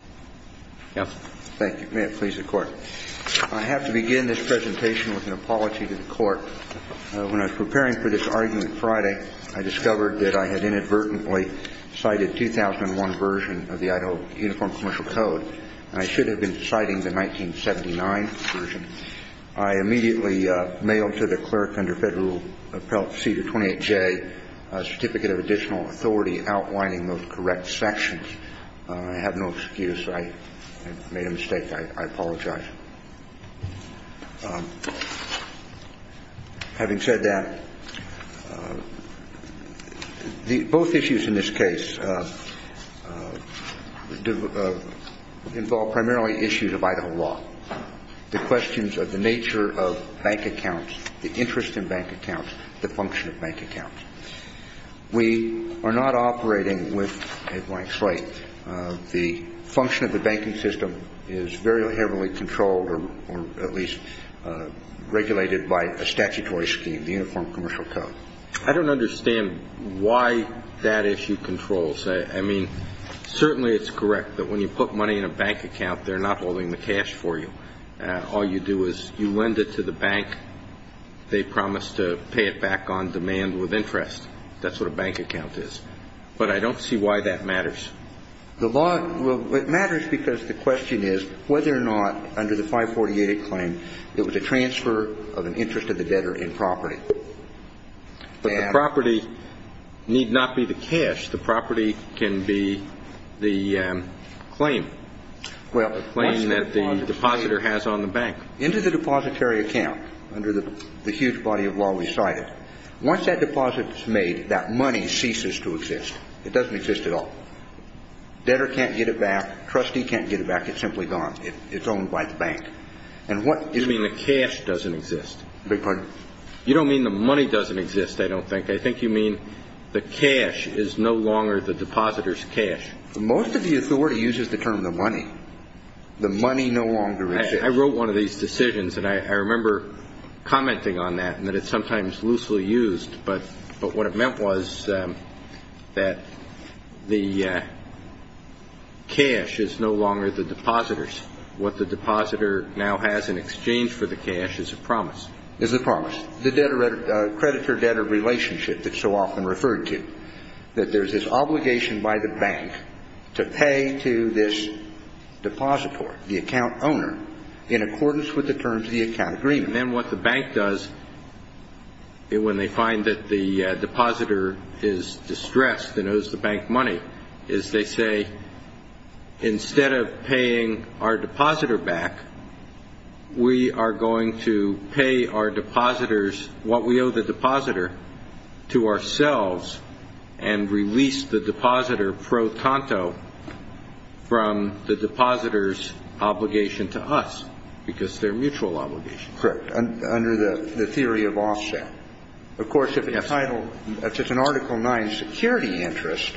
I have to begin this presentation with an apology to the Court. When I was preparing for this argument Friday, I discovered that I had inadvertently cited the 2001 version of the Idaho Uniform Commercial Code. I should have been citing the 1979 version. I immediately mailed to the clerk under Federal Appellate Procedure 28J a Certificate of Additional Authority outlining those correct sections. I have no excuse. I made a mistake. I apologize. Having said that, both issues in this case involve primarily issues of Idaho law. The questions of the nature of bank accounts, the interest in bank accounts, the function of bank accounts. We are not operating with a blank slate. The function of the banking system is very heavily controlled or at least regulated by a statutory scheme, the Uniform Commercial Code. I don't understand why that issue controls. I mean, certainly it's correct that when you put money in a bank account, they're not holding the cash for you. All you do is you lend it to the bank. They promise to pay it back on demand with interest. That's what a bank account is. But I don't see why that matters. Well, it matters because the question is whether or not, under the 548 claim, it was a transfer of an interest of the debtor in property. But the property need not be the cash. The property can be the claim. Well, the claim that the depositor has on the bank. Into the depository account, under the huge body of law we cited, once that deposit is made, that money ceases to exist. It doesn't exist at all. Debtor can't get it back. Trustee can't get it back. It's simply gone. It's owned by the bank. You mean the cash doesn't exist? I beg your pardon? You don't mean the money doesn't exist, I don't think. I think you mean the cash is no longer the depositor's cash. Most of the authority uses the term the money. The money no longer exists. I wrote one of these decisions, and I remember commenting on that, and that it's sometimes loosely used. But what it meant was that the cash is no longer the depositor's. What the depositor now has in exchange for the cash is a promise. Is a promise. The creditor-debtor relationship that's so often referred to, that there's this obligation by the bank to pay to this depositor, the account owner, in accordance with the terms of the account agreement. And then what the bank does when they find that the depositor is distressed and owes the bank money, is they say, instead of paying our depositor back, we are going to pay our depositors what we owe the depositor to ourselves and release the depositor pro tanto from the depositor's obligation to us, because they're mutual obligations. Correct. Under the theory of offset. Of course, if the title, if it's an Article 9 security interest,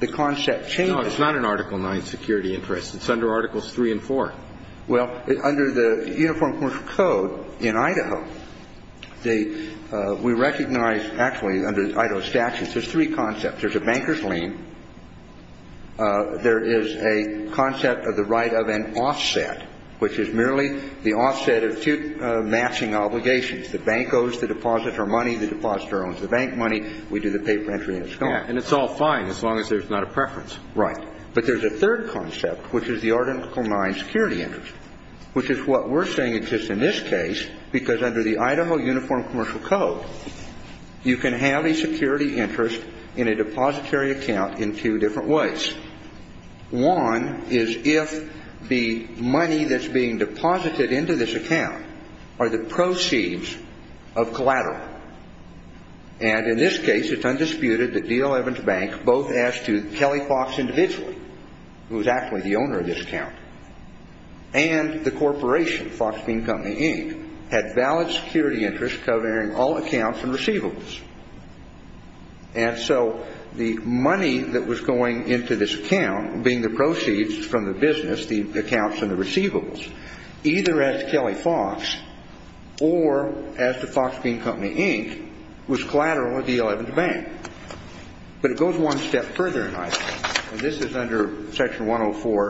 the concept changes. No, it's not an Article 9 security interest. It's under Articles 3 and 4. Well, under the Uniform Court of Code in Idaho, we recognize, actually, under Idaho statutes, there's three concepts. There's a banker's lien. There is a concept of the right of an offset, which is merely the offset of two matching obligations. The bank owes the depositor money. The depositor owns the bank money. We do the paper entry and it's gone. And it's all fine as long as there's not a preference. Right. But there's a third concept, which is the Article 9 security interest, which is what we're saying exists in this case, because under the Idaho Uniform Commercial Code, you can have a security interest in a depository account in two different ways. One is if the money that's being deposited into this account are the proceeds of collateral. And in this case, it's undisputed that D11's bank, both as to Kelly Fox individually, who is actually the owner of this account, and the corporation, Fox Bean Company, Inc., had valid security interests covering all accounts and receivables. And so the money that was going into this account, being the proceeds from the business, the accounts and the receivables, either as to Kelly Fox or as to Fox Bean Company, Inc., was collateral of D11's bank. But it goes one step further in Idaho. And this is under Section 104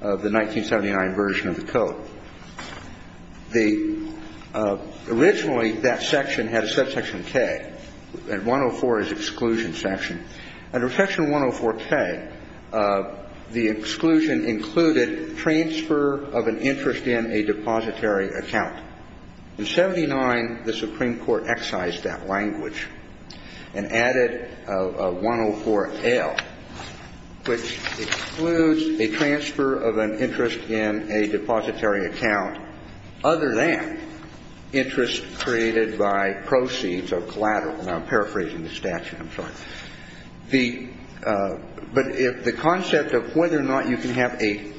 of the 1979 version of the code. Originally, that section had a subsection K, and 104 is exclusion section. Under Section 104K, the exclusion included transfer of an interest in a depository account. In 79, the Supreme Court excised that language and added 104L, which excludes a transfer of an interest in a depository account other than interest created by proceeds of collateral. And I'm paraphrasing the statute. I'm sorry. But the concept of whether or not you can have a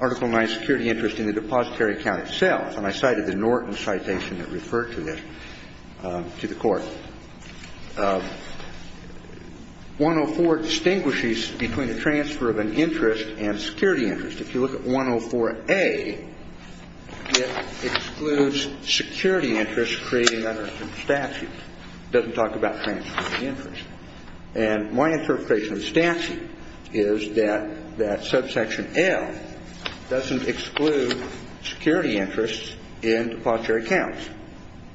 Article IX security interest in the depository account itself, and I cited the Norton citation that referred to this to the Court, 104 distinguishes between a transfer of an interest and a security interest. If you look at 104A, it excludes security interest created under statute. It doesn't talk about transfer of interest. And my interpretation of statute is that that subsection L doesn't exclude security interest in depository accounts.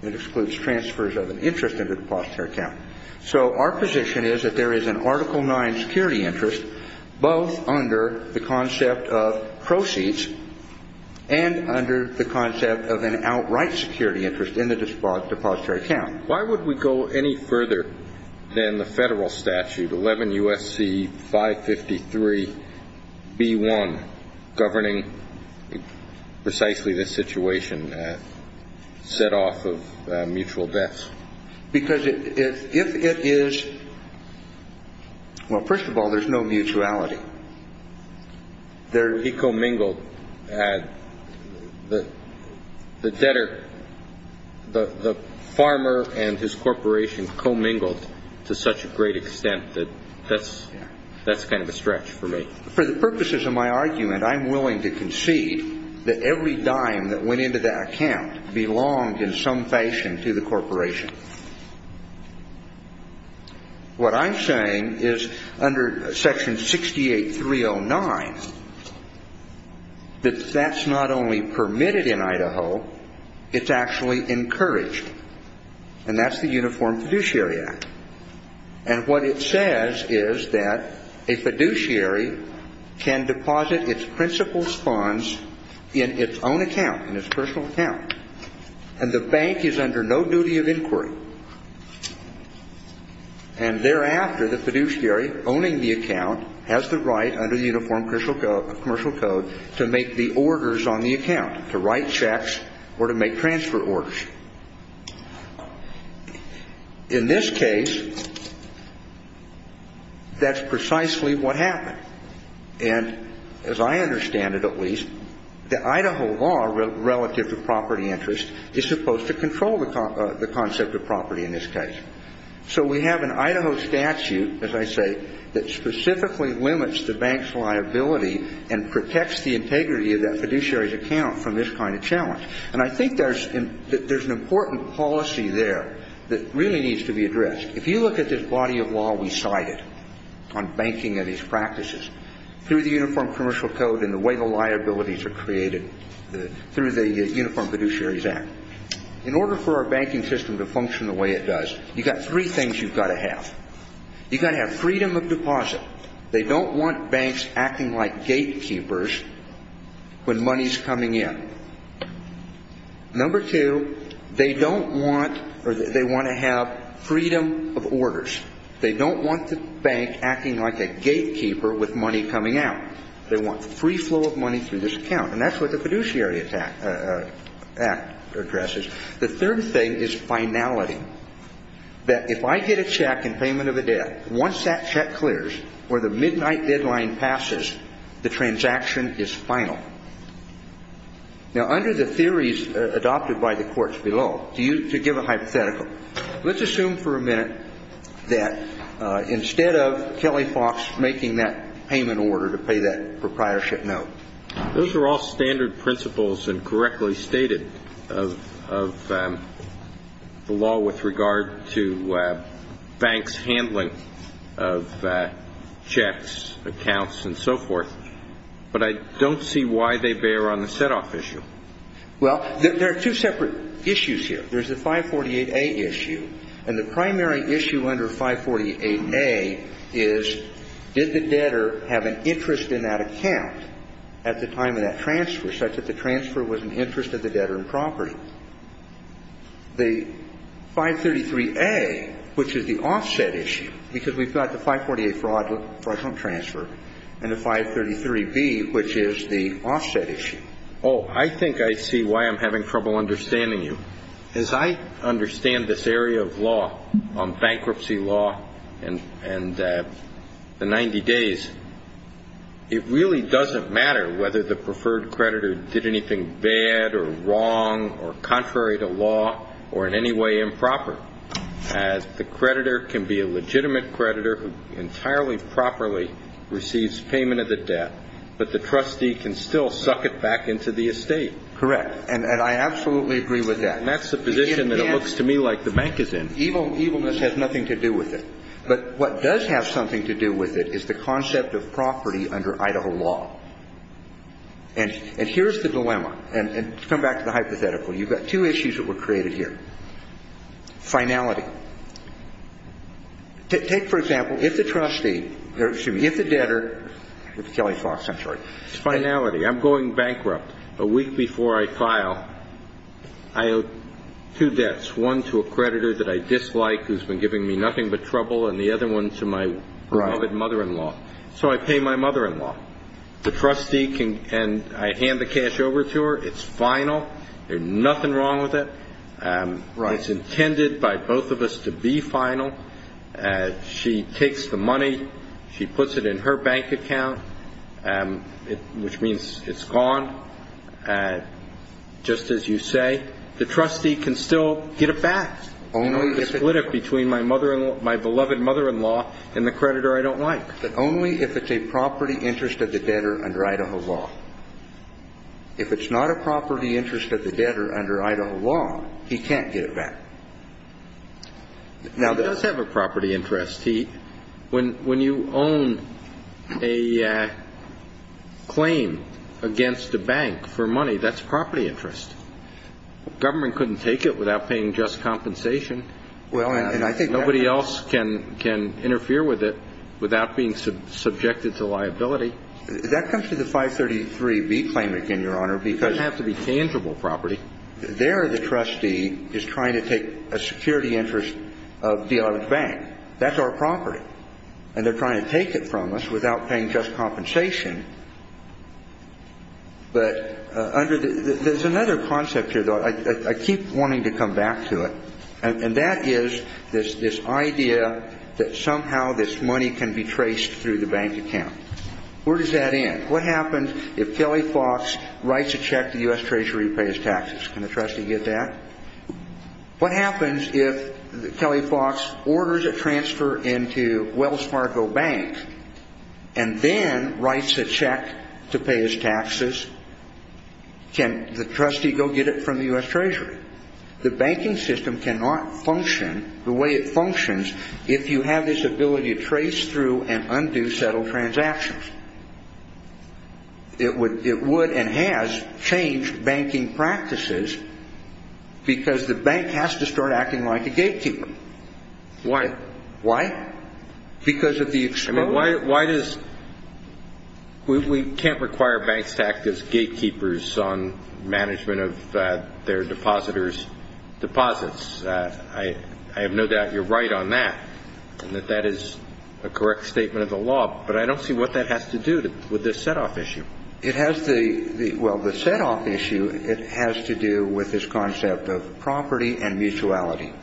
It excludes transfers of an interest in a depository account. So our position is that there is an Article IX security interest both under the concept of proceeds and under the concept of an outright security interest in the depository account. Why would we go any further than the Federal statute, 11 U.S.C. 553b1, governing precisely this situation set off of mutual debts? Because if it is – well, first of all, there's no mutuality. He commingled. The debtor – the farmer and his corporation commingled to such a great extent that that's kind of a stretch for me. For the purposes of my argument, I'm willing to concede that every dime that went into that account belonged in some fashion to the corporation. What I'm saying is under Section 68309 that that's not only permitted in Idaho, it's actually encouraged. And that's the Uniform Fiduciary Act. And what it says is that a fiduciary can deposit its principal funds in its own account, in its personal account. And the bank is under no duty of inquiry. And thereafter, the fiduciary owning the account has the right under the Uniform Commercial Code to make the orders on the account, to write checks or to make transfer orders. In this case, that's precisely what happened. And as I understand it, at least, the Idaho law relative to property interest is supposed to control the concept of property in this case. So we have an Idaho statute, as I say, that specifically limits the bank's liability and protects the integrity of that fiduciary's account from this kind of challenge. And I think there's an important policy there that really needs to be addressed. If you look at this body of law we cited on banking and its practices, through the Uniform Commercial Code and the way the liabilities are created through the Uniform Fiduciary Act, in order for our banking system to function the way it does, you've got three things you've got to have. You've got to have freedom of deposit. They don't want banks acting like gatekeepers when money's coming in. Number two, they don't want or they want to have freedom of orders. They don't want the bank acting like a gatekeeper with money coming out. They want free flow of money through this account, and that's what the fiduciary act addresses. The third thing is finality, that if I get a check in payment of a debt, once that check clears or the midnight deadline passes, the transaction is final. Now, under the theories adopted by the courts below, to give a hypothetical, let's assume for a minute that instead of Kelly Fox making that payment order to pay that proprietorship note, those are all standard principles and correctly stated of the law with regard to banks' handling of checks, accounts, and so forth. But I don't see why they bear on the set-off issue. Well, there are two separate issues here. There's the 548A issue, and the primary issue under 548A is did the debtor have an interest in that account? At the time of that transfer, such that the transfer was in interest of the debtor in property. The 533A, which is the offset issue, because we've got the 548 fraudulent transfer, and the 533B, which is the offset issue. Oh, I think I see why I'm having trouble understanding you. As I understand this area of law on bankruptcy law and the 90 days, it really doesn't matter whether the preferred creditor did anything bad or wrong or contrary to law or in any way improper, as the creditor can be a legitimate creditor who entirely properly receives payment of the debt, but the trustee can still suck it back into the estate. Correct, and I absolutely agree with that. And that's the position that it looks to me like the bank is in. Evilness has nothing to do with it. But what does have something to do with it is the concept of property under Idaho law. And here's the dilemma. And to come back to the hypothetical, you've got two issues that were created here. Finality. Take, for example, if the trustee or, excuse me, if the debtor, with Kelly Fox, I'm sorry, Finality. I'm going bankrupt. A week before I file, I owe two debts, one to a creditor that I dislike who's been giving me nothing but trouble, and the other one to my beloved mother-in-law. So I pay my mother-in-law. The trustee, and I hand the cash over to her. It's final. There's nothing wrong with it. It's intended by both of us to be final. She takes the money. She puts it in her bank account. Which means it's gone. Just as you say, the trustee can still get it back. He can split it between my beloved mother-in-law and the creditor I don't like. But only if it's a property interest of the debtor under Idaho law. If it's not a property interest of the debtor under Idaho law, he can't get it back. Now, he does have a property interest. When you own a claim against a bank for money, that's property interest. Government couldn't take it without paying just compensation. Nobody else can interfere with it without being subjected to liability. That comes to the 533B claim again, Your Honor. It doesn't have to be tangible property. There the trustee is trying to take a security interest of the bank. That's our property. And they're trying to take it from us without paying just compensation. But there's another concept here, though. I keep wanting to come back to it. And that is this idea that somehow this money can be traced through the bank account. Where does that end? What happens if Kelly Fox writes a check to the U.S. Treasury to pay his taxes? Can the trustee get that? What happens if Kelly Fox orders a transfer into Wells Fargo Bank and then writes a check to pay his taxes? Can the trustee go get it from the U.S. Treasury? The banking system cannot function the way it functions if you have this ability to trace through and undo settled transactions. It would and has changed banking practices because the bank has to start acting like a gatekeeper. Why? Why? Because of the exposure. I mean, why does we can't require banks to act as gatekeepers on management of their depositors' deposits. I have no doubt you're right on that and that that is a correct statement of the law. But I don't see what that has to do with this set-off issue. Well, the set-off issue, it has to do with this concept of property and mutuality.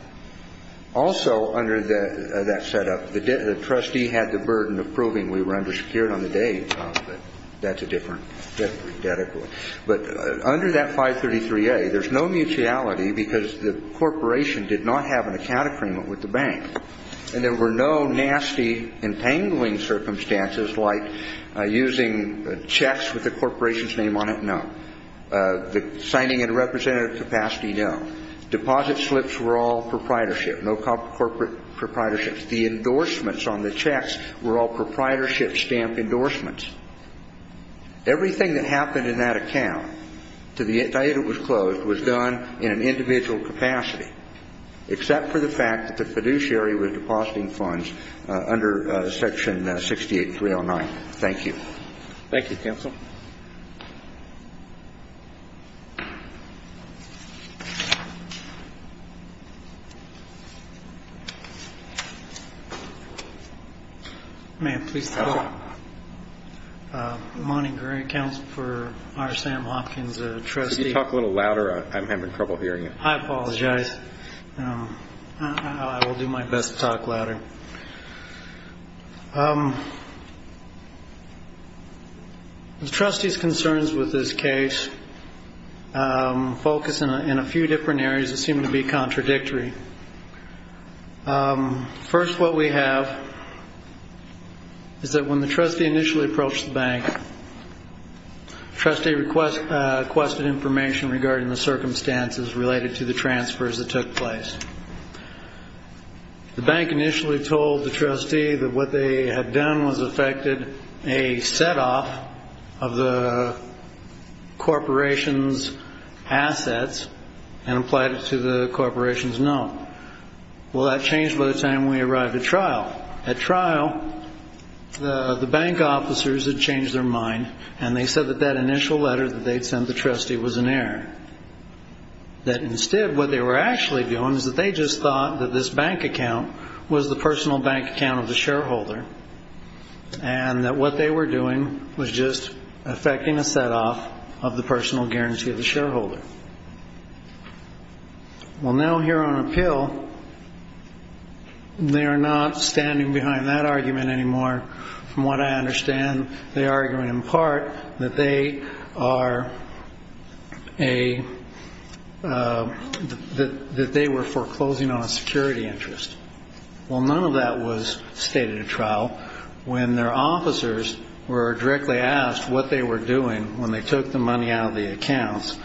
Also under that set-up, the trustee had the burden of proving we were undersecured on the day. That's a different debt accord. But under that 533A, there's no mutuality because the corporation did not have an account agreement with the bank. And there were no nasty entangling circumstances like using checks with the corporation's name on it. No. The signing in a representative capacity, no. Deposit slips were all proprietorship, no corporate proprietorship. The endorsements on the checks were all proprietorship stamp endorsements. Everything that happened in that account to the date it was closed was done in an individual capacity except for the fact that the fiduciary was depositing funds under Section 68309. Thank you. Thank you, Counsel. May I please talk? Go ahead. Monty Gray, Counsel for R. Sam Hopkins, a trustee. Could you talk a little louder? I'm having trouble hearing you. I apologize. I will do my best to talk louder. The trustee's concerns with this case focus in a few different areas that seem to be contradictory. First, what we have is that when the trustee initially approached the bank, the trustee requested information regarding the circumstances related to the transfers that took place. The bank initially told the trustee that what they had done was effected a set-off of the corporation's assets and applied it to the corporation's note. Well, that changed by the time we arrived at trial. At trial, the bank officers had changed their mind, and they said that that initial letter that they had sent the trustee was an error, that instead what they were actually doing is that they just thought that this bank account was the personal bank account of the shareholder and that what they were doing was just effecting a set-off of the personal guarantee of the shareholder. Well, now here on appeal, they are not standing behind that argument anymore. From what I understand, they are arguing in part that they were foreclosing on a security interest. Well, none of that was stated at trial. When their officers were directly asked what they were doing when they took the money out of the accounts,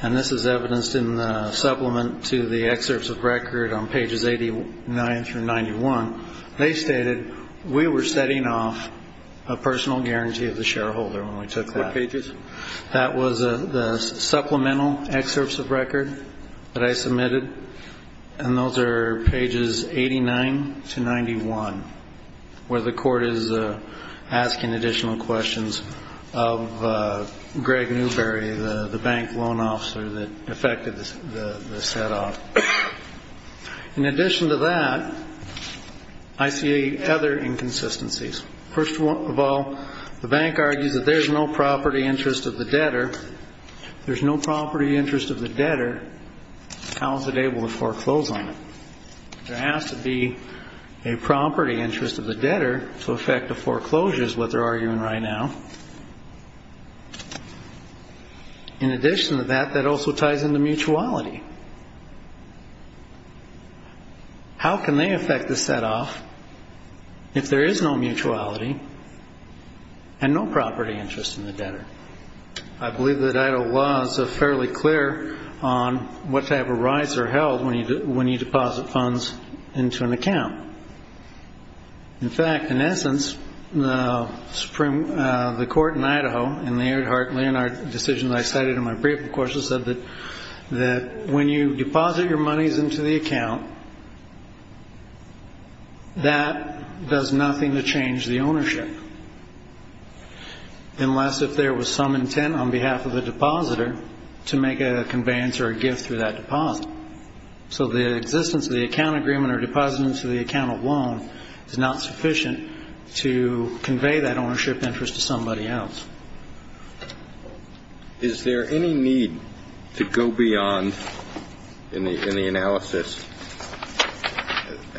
and this is evidenced in the supplement to the excerpts of record on pages 89 through 91, they stated we were setting off a personal guarantee of the shareholder when we took that. What pages? That was the supplemental excerpts of record that I submitted, and those are pages 89 to 91, where the court is asking additional questions of Greg Newberry, the bank loan officer that effected the set-off. In addition to that, I see other inconsistencies. First of all, the bank argues that there's no property interest of the debtor. If there's no property interest of the debtor, how is it able to foreclose on it? There has to be a property interest of the debtor to effect the foreclosures, what they're arguing right now. In addition to that, that also ties into mutuality. How can they effect the set-off if there is no mutuality and no property interest in the debtor? I believe that Idaho law is fairly clear on what type of rights are held when you deposit funds into an account. In fact, in essence, the court in Idaho in the Earhart-Leonard decision I cited in my brief, of course, said that when you deposit your monies into the account, that does nothing to change the ownership, unless if there was some intent on behalf of the depositor to make a conveyance or a gift through that deposit. So the existence of the account agreement or deposit into the account alone is not sufficient to convey that ownership interest to somebody else. Is there any need to go beyond, in the analysis,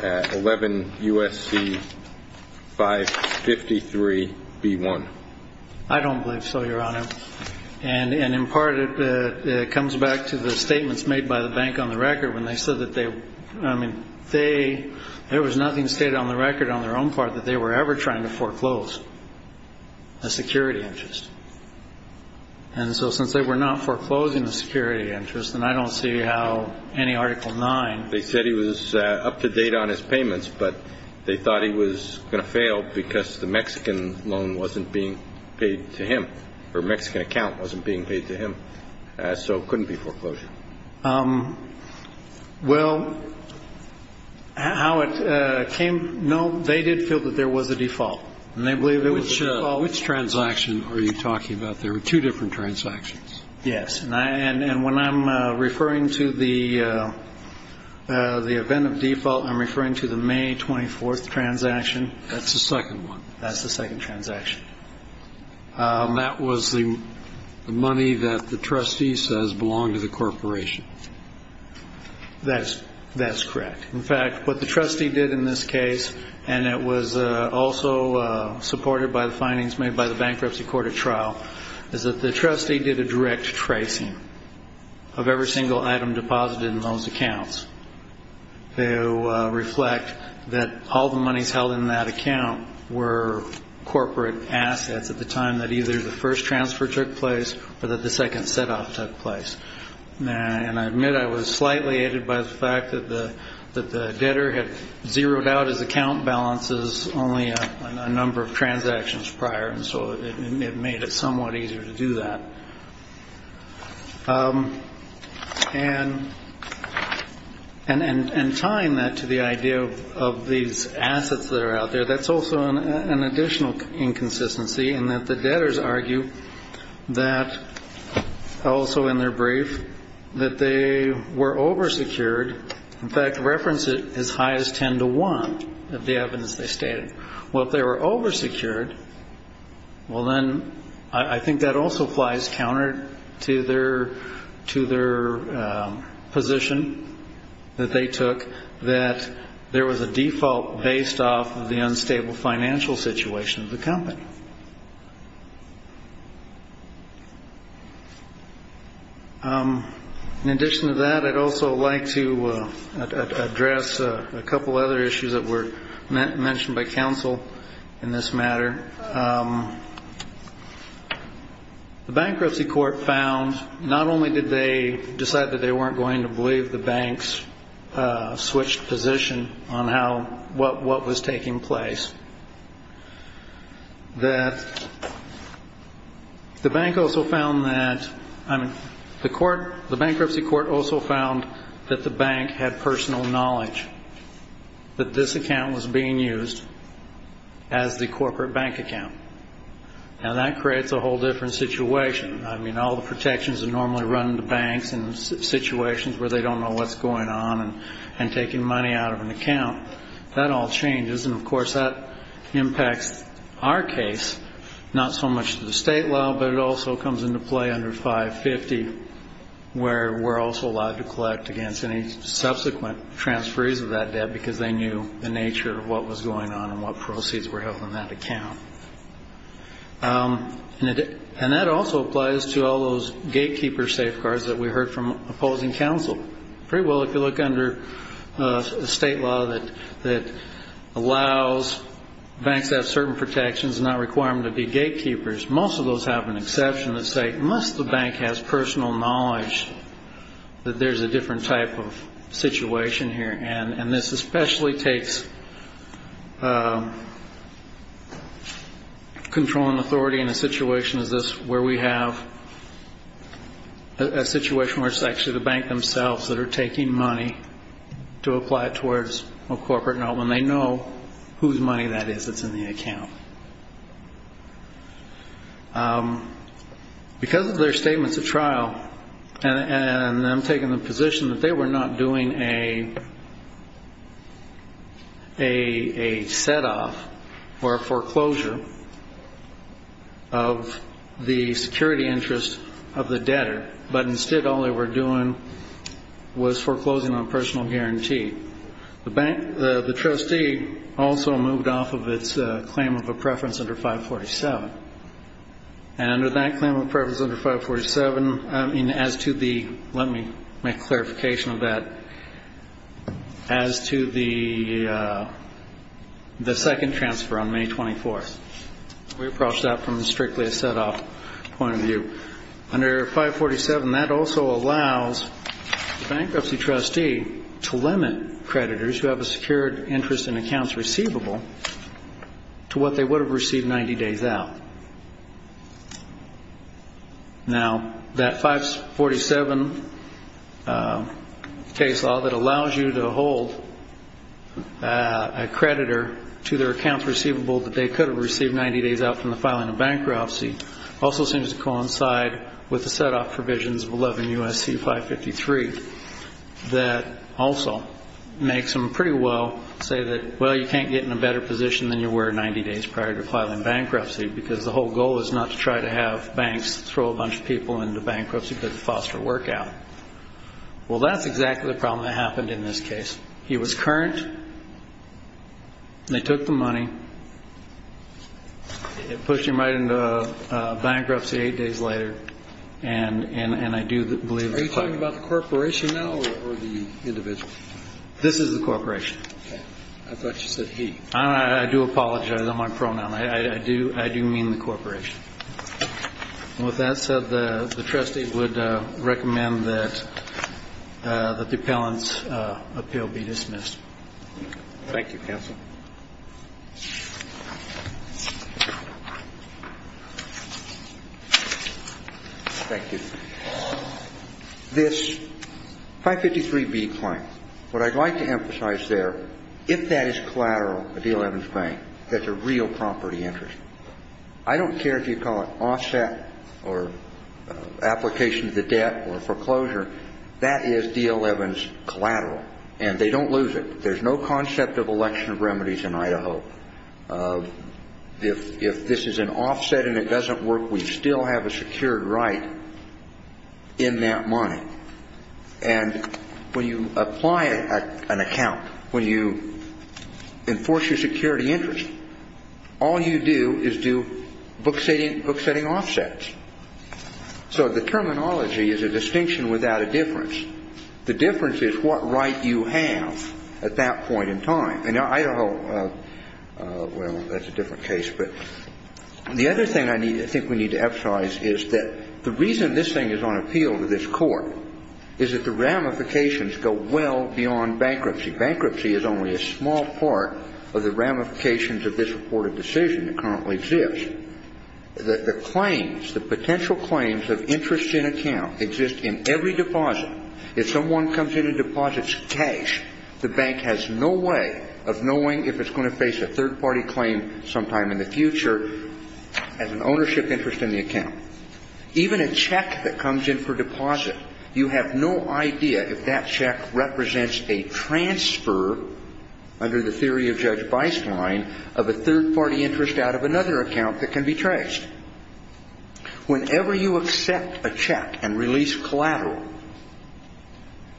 11 U.S.C. 553-B1? I don't believe so, Your Honor. And in part, it comes back to the statements made by the bank on the record when they said that they – there was nothing stated on the record on their own part that they were ever trying to foreclose a security interest. And so since they were not foreclosing a security interest, and I don't see how any Article 9 – They said he was up to date on his payments, but they thought he was going to fail because the Mexican loan wasn't being paid to him, or Mexican account wasn't being paid to him. So it couldn't be foreclosure. Well, how it came – no, they did feel that there was a default. And they believe it was a default. Which transaction are you talking about? There were two different transactions. Yes. And when I'm referring to the event of default, I'm referring to the May 24th transaction. That's the second one. That's the second transaction. That was the money that the trustee says belonged to the corporation. That's correct. In fact, what the trustee did in this case, and it was also supported by the findings made by the bankruptcy court at trial, is that the trustee did a direct tracing of every single item deposited in those accounts to reflect that all the monies held in that account were corporate assets at the time that either the first transfer took place or that the second set-off took place. And I admit I was slightly aided by the fact that the debtor had zeroed out his account balances only a number of transactions prior, and so it made it somewhat easier to do that. And tying that to the idea of these assets that are out there, that's also an additional inconsistency in that the debtors argue that also in their brief that they were oversecured. In fact, reference it as high as 10 to 1 of the evidence they stated. Well, if they were oversecured, well, then I think that also flies counter to their position that they took, that there was a default based off of the unstable financial situation of the company. In addition to that, I'd also like to address a couple other issues that were mentioned by counsel in this matter. The bankruptcy court found not only did they decide that they weren't going to believe the banks switched position on what was taking place, that the bank also found that the bank had personal knowledge that this account was being used as the corporate bank account. Now, that creates a whole different situation. I mean, all the protections that normally run the banks in situations where they don't know what's going on and taking money out of an account, that all changes. And, of course, that impacts our case not so much to the state law, but it also comes into play under 550, where we're also allowed to collect against any subsequent transferees of that debt because they knew the nature of what was going on and what proceeds were held in that account. And that also applies to all those gatekeeper safeguards that we heard from opposing counsel. Pretty well, if you look under state law that allows banks to have certain protections and not require them to be gatekeepers, most of those have an exception that say, unless the bank has personal knowledge that there's a different type of situation here. And this especially takes control and authority in a situation where we have a situation where it's actually the bank themselves that are taking money to apply it towards a corporate note when they know whose money that is that's in the account. Because of their statements at trial and them taking the position that they were not doing a set-off or a foreclosure of the security interest of the debtor, but instead all they were doing was foreclosing on personal guarantee, the trustee also moved off of its claim of a preference under 547. And under that claim of preference under 547, as to the – let me make clarification of that – as to the second transfer on May 24th. We approach that from strictly a set-off point of view. Under 547, that also allows the bankruptcy trustee to limit creditors who have a secured interest in accounts receivable to what they would have received 90 days out. Now, that 547 case law that allows you to hold a creditor to their accounts receivable that they could have received 90 days out from the filing of bankruptcy also seems to coincide with the set-off provisions of 11 U.S.C. 553 that also makes them pretty well say that, well, you can't get in a better position than you were 90 days prior to filing bankruptcy because the whole goal is not to try to have banks throw a bunch of people into bankruptcy because of foster work out. Well, that's exactly the problem that happened in this case. He was current. They took the money. It pushed him right into bankruptcy eight days later. And I do believe – Are you talking about the corporation now or the individual? This is the corporation. I thought you said he. I do apologize on my pronoun. I do mean the corporation. With that said, the trustee would recommend that the appellant's appeal be dismissed. Thank you, counsel. Thank you. This 553B claim, what I'd like to emphasize there, if that is collateral, the D11's bank, that's a real property interest. I don't care if you call it offset or application of the debt or foreclosure. That is D11's collateral, and they don't lose it. There's no concept of election remedies in Idaho. If this is an offset and it doesn't work, we still have a secured right in that money. And when you apply an account, when you enforce your security interest, all you do is do book-setting offsets. So the terminology is a distinction without a difference. The difference is what right you have at that point in time. In Idaho, well, that's a different case. But the other thing I think we need to emphasize is that the reason this thing is on appeal to this Court is that the ramifications go well beyond bankruptcy. Bankruptcy is only a small part of the ramifications of this reported decision that currently exists. The claims, the potential claims of interest in account exist in every deposit. If someone comes in and deposits cash, the bank has no way of knowing if it's going to face a third-party claim sometime in the future as an ownership interest in the account. Even a check that comes in for deposit, you have no idea if that check represents a transfer, under the theory of Judge Beistlein, of a third-party interest out of another account that can be traced. Whenever you accept a check and release collateral,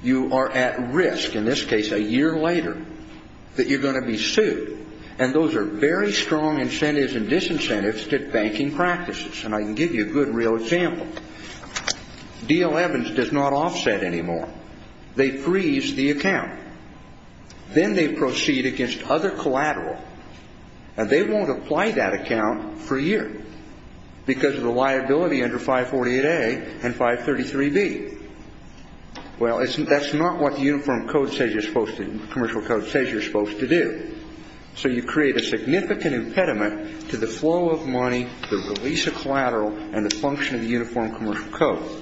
you are at risk, in this case a year later, that you're going to be sued. And those are very strong incentives and disincentives to banking practices. And I can give you a good real example. D.L. Evans does not offset anymore. They freeze the account. Then they proceed against other collateral. And they won't apply that account for a year because of the liability under 548A and 533B. Well, that's not what the Uniform Commercial Code says you're supposed to do. So you create a significant impediment to the flow of money, the release of collateral, and the function of the Uniform Commercial Code.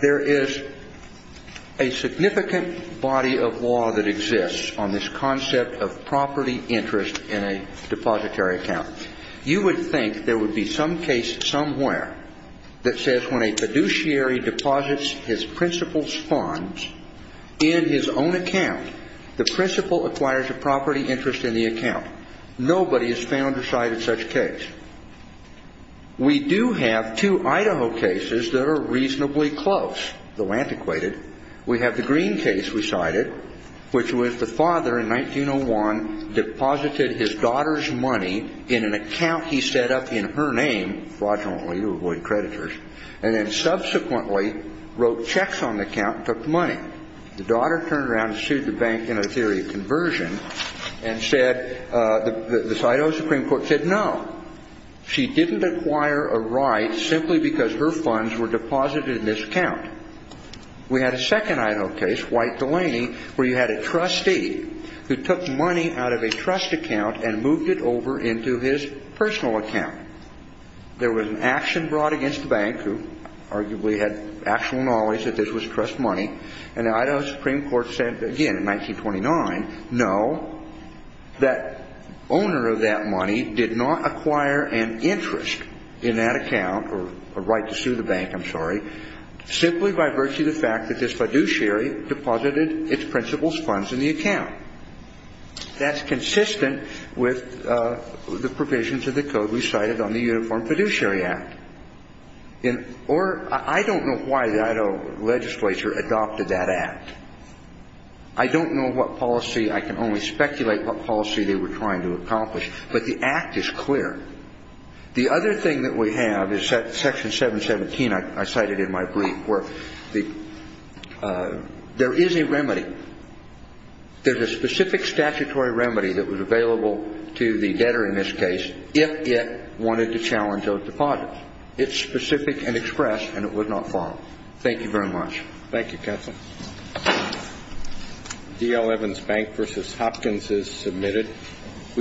There is a significant body of law that exists on this concept of property interest in a depository account. You would think there would be some case somewhere that says when a fiduciary deposits his principal's funds in his own account, the principal acquires a property interest in the account. Nobody has found or cited such a case. We do have two Idaho cases that are reasonably close, though antiquated. We have the Green case we cited, which was the father, in 1901, deposited his daughter's money in an account he set up in her name, fraudulently to avoid creditors, and then subsequently wrote checks on the account and took the money. The daughter turned around and sued the bank in a theory of conversion. And said, the Idaho Supreme Court said no. She didn't acquire a right simply because her funds were deposited in this account. We had a second Idaho case, White-Delaney, where you had a trustee who took money out of a trust account and moved it over into his personal account. There was an action brought against the bank, who arguably had actual knowledge that this was trust money, and the Idaho Supreme Court said, again, in 1929, no, that owner of that money did not acquire an interest in that account, or a right to sue the bank, I'm sorry, simply by virtue of the fact that this fiduciary deposited its principal's funds in the account. That's consistent with the provisions of the code we cited on the Uniform Fiduciary Act. Or, I don't know why the Idaho legislature adopted that act. I don't know what policy, I can only speculate what policy they were trying to accomplish. But the act is clear. The other thing that we have is Section 717, I cited in my brief, where there is a remedy. There's a specific statutory remedy that was available to the debtor in this case if it wanted to challenge those deposits. It's specific and expressed, and it would not fall. Thank you very much. Thank you, counsel. D.L. Evans Bank v. Hopkins is submitted.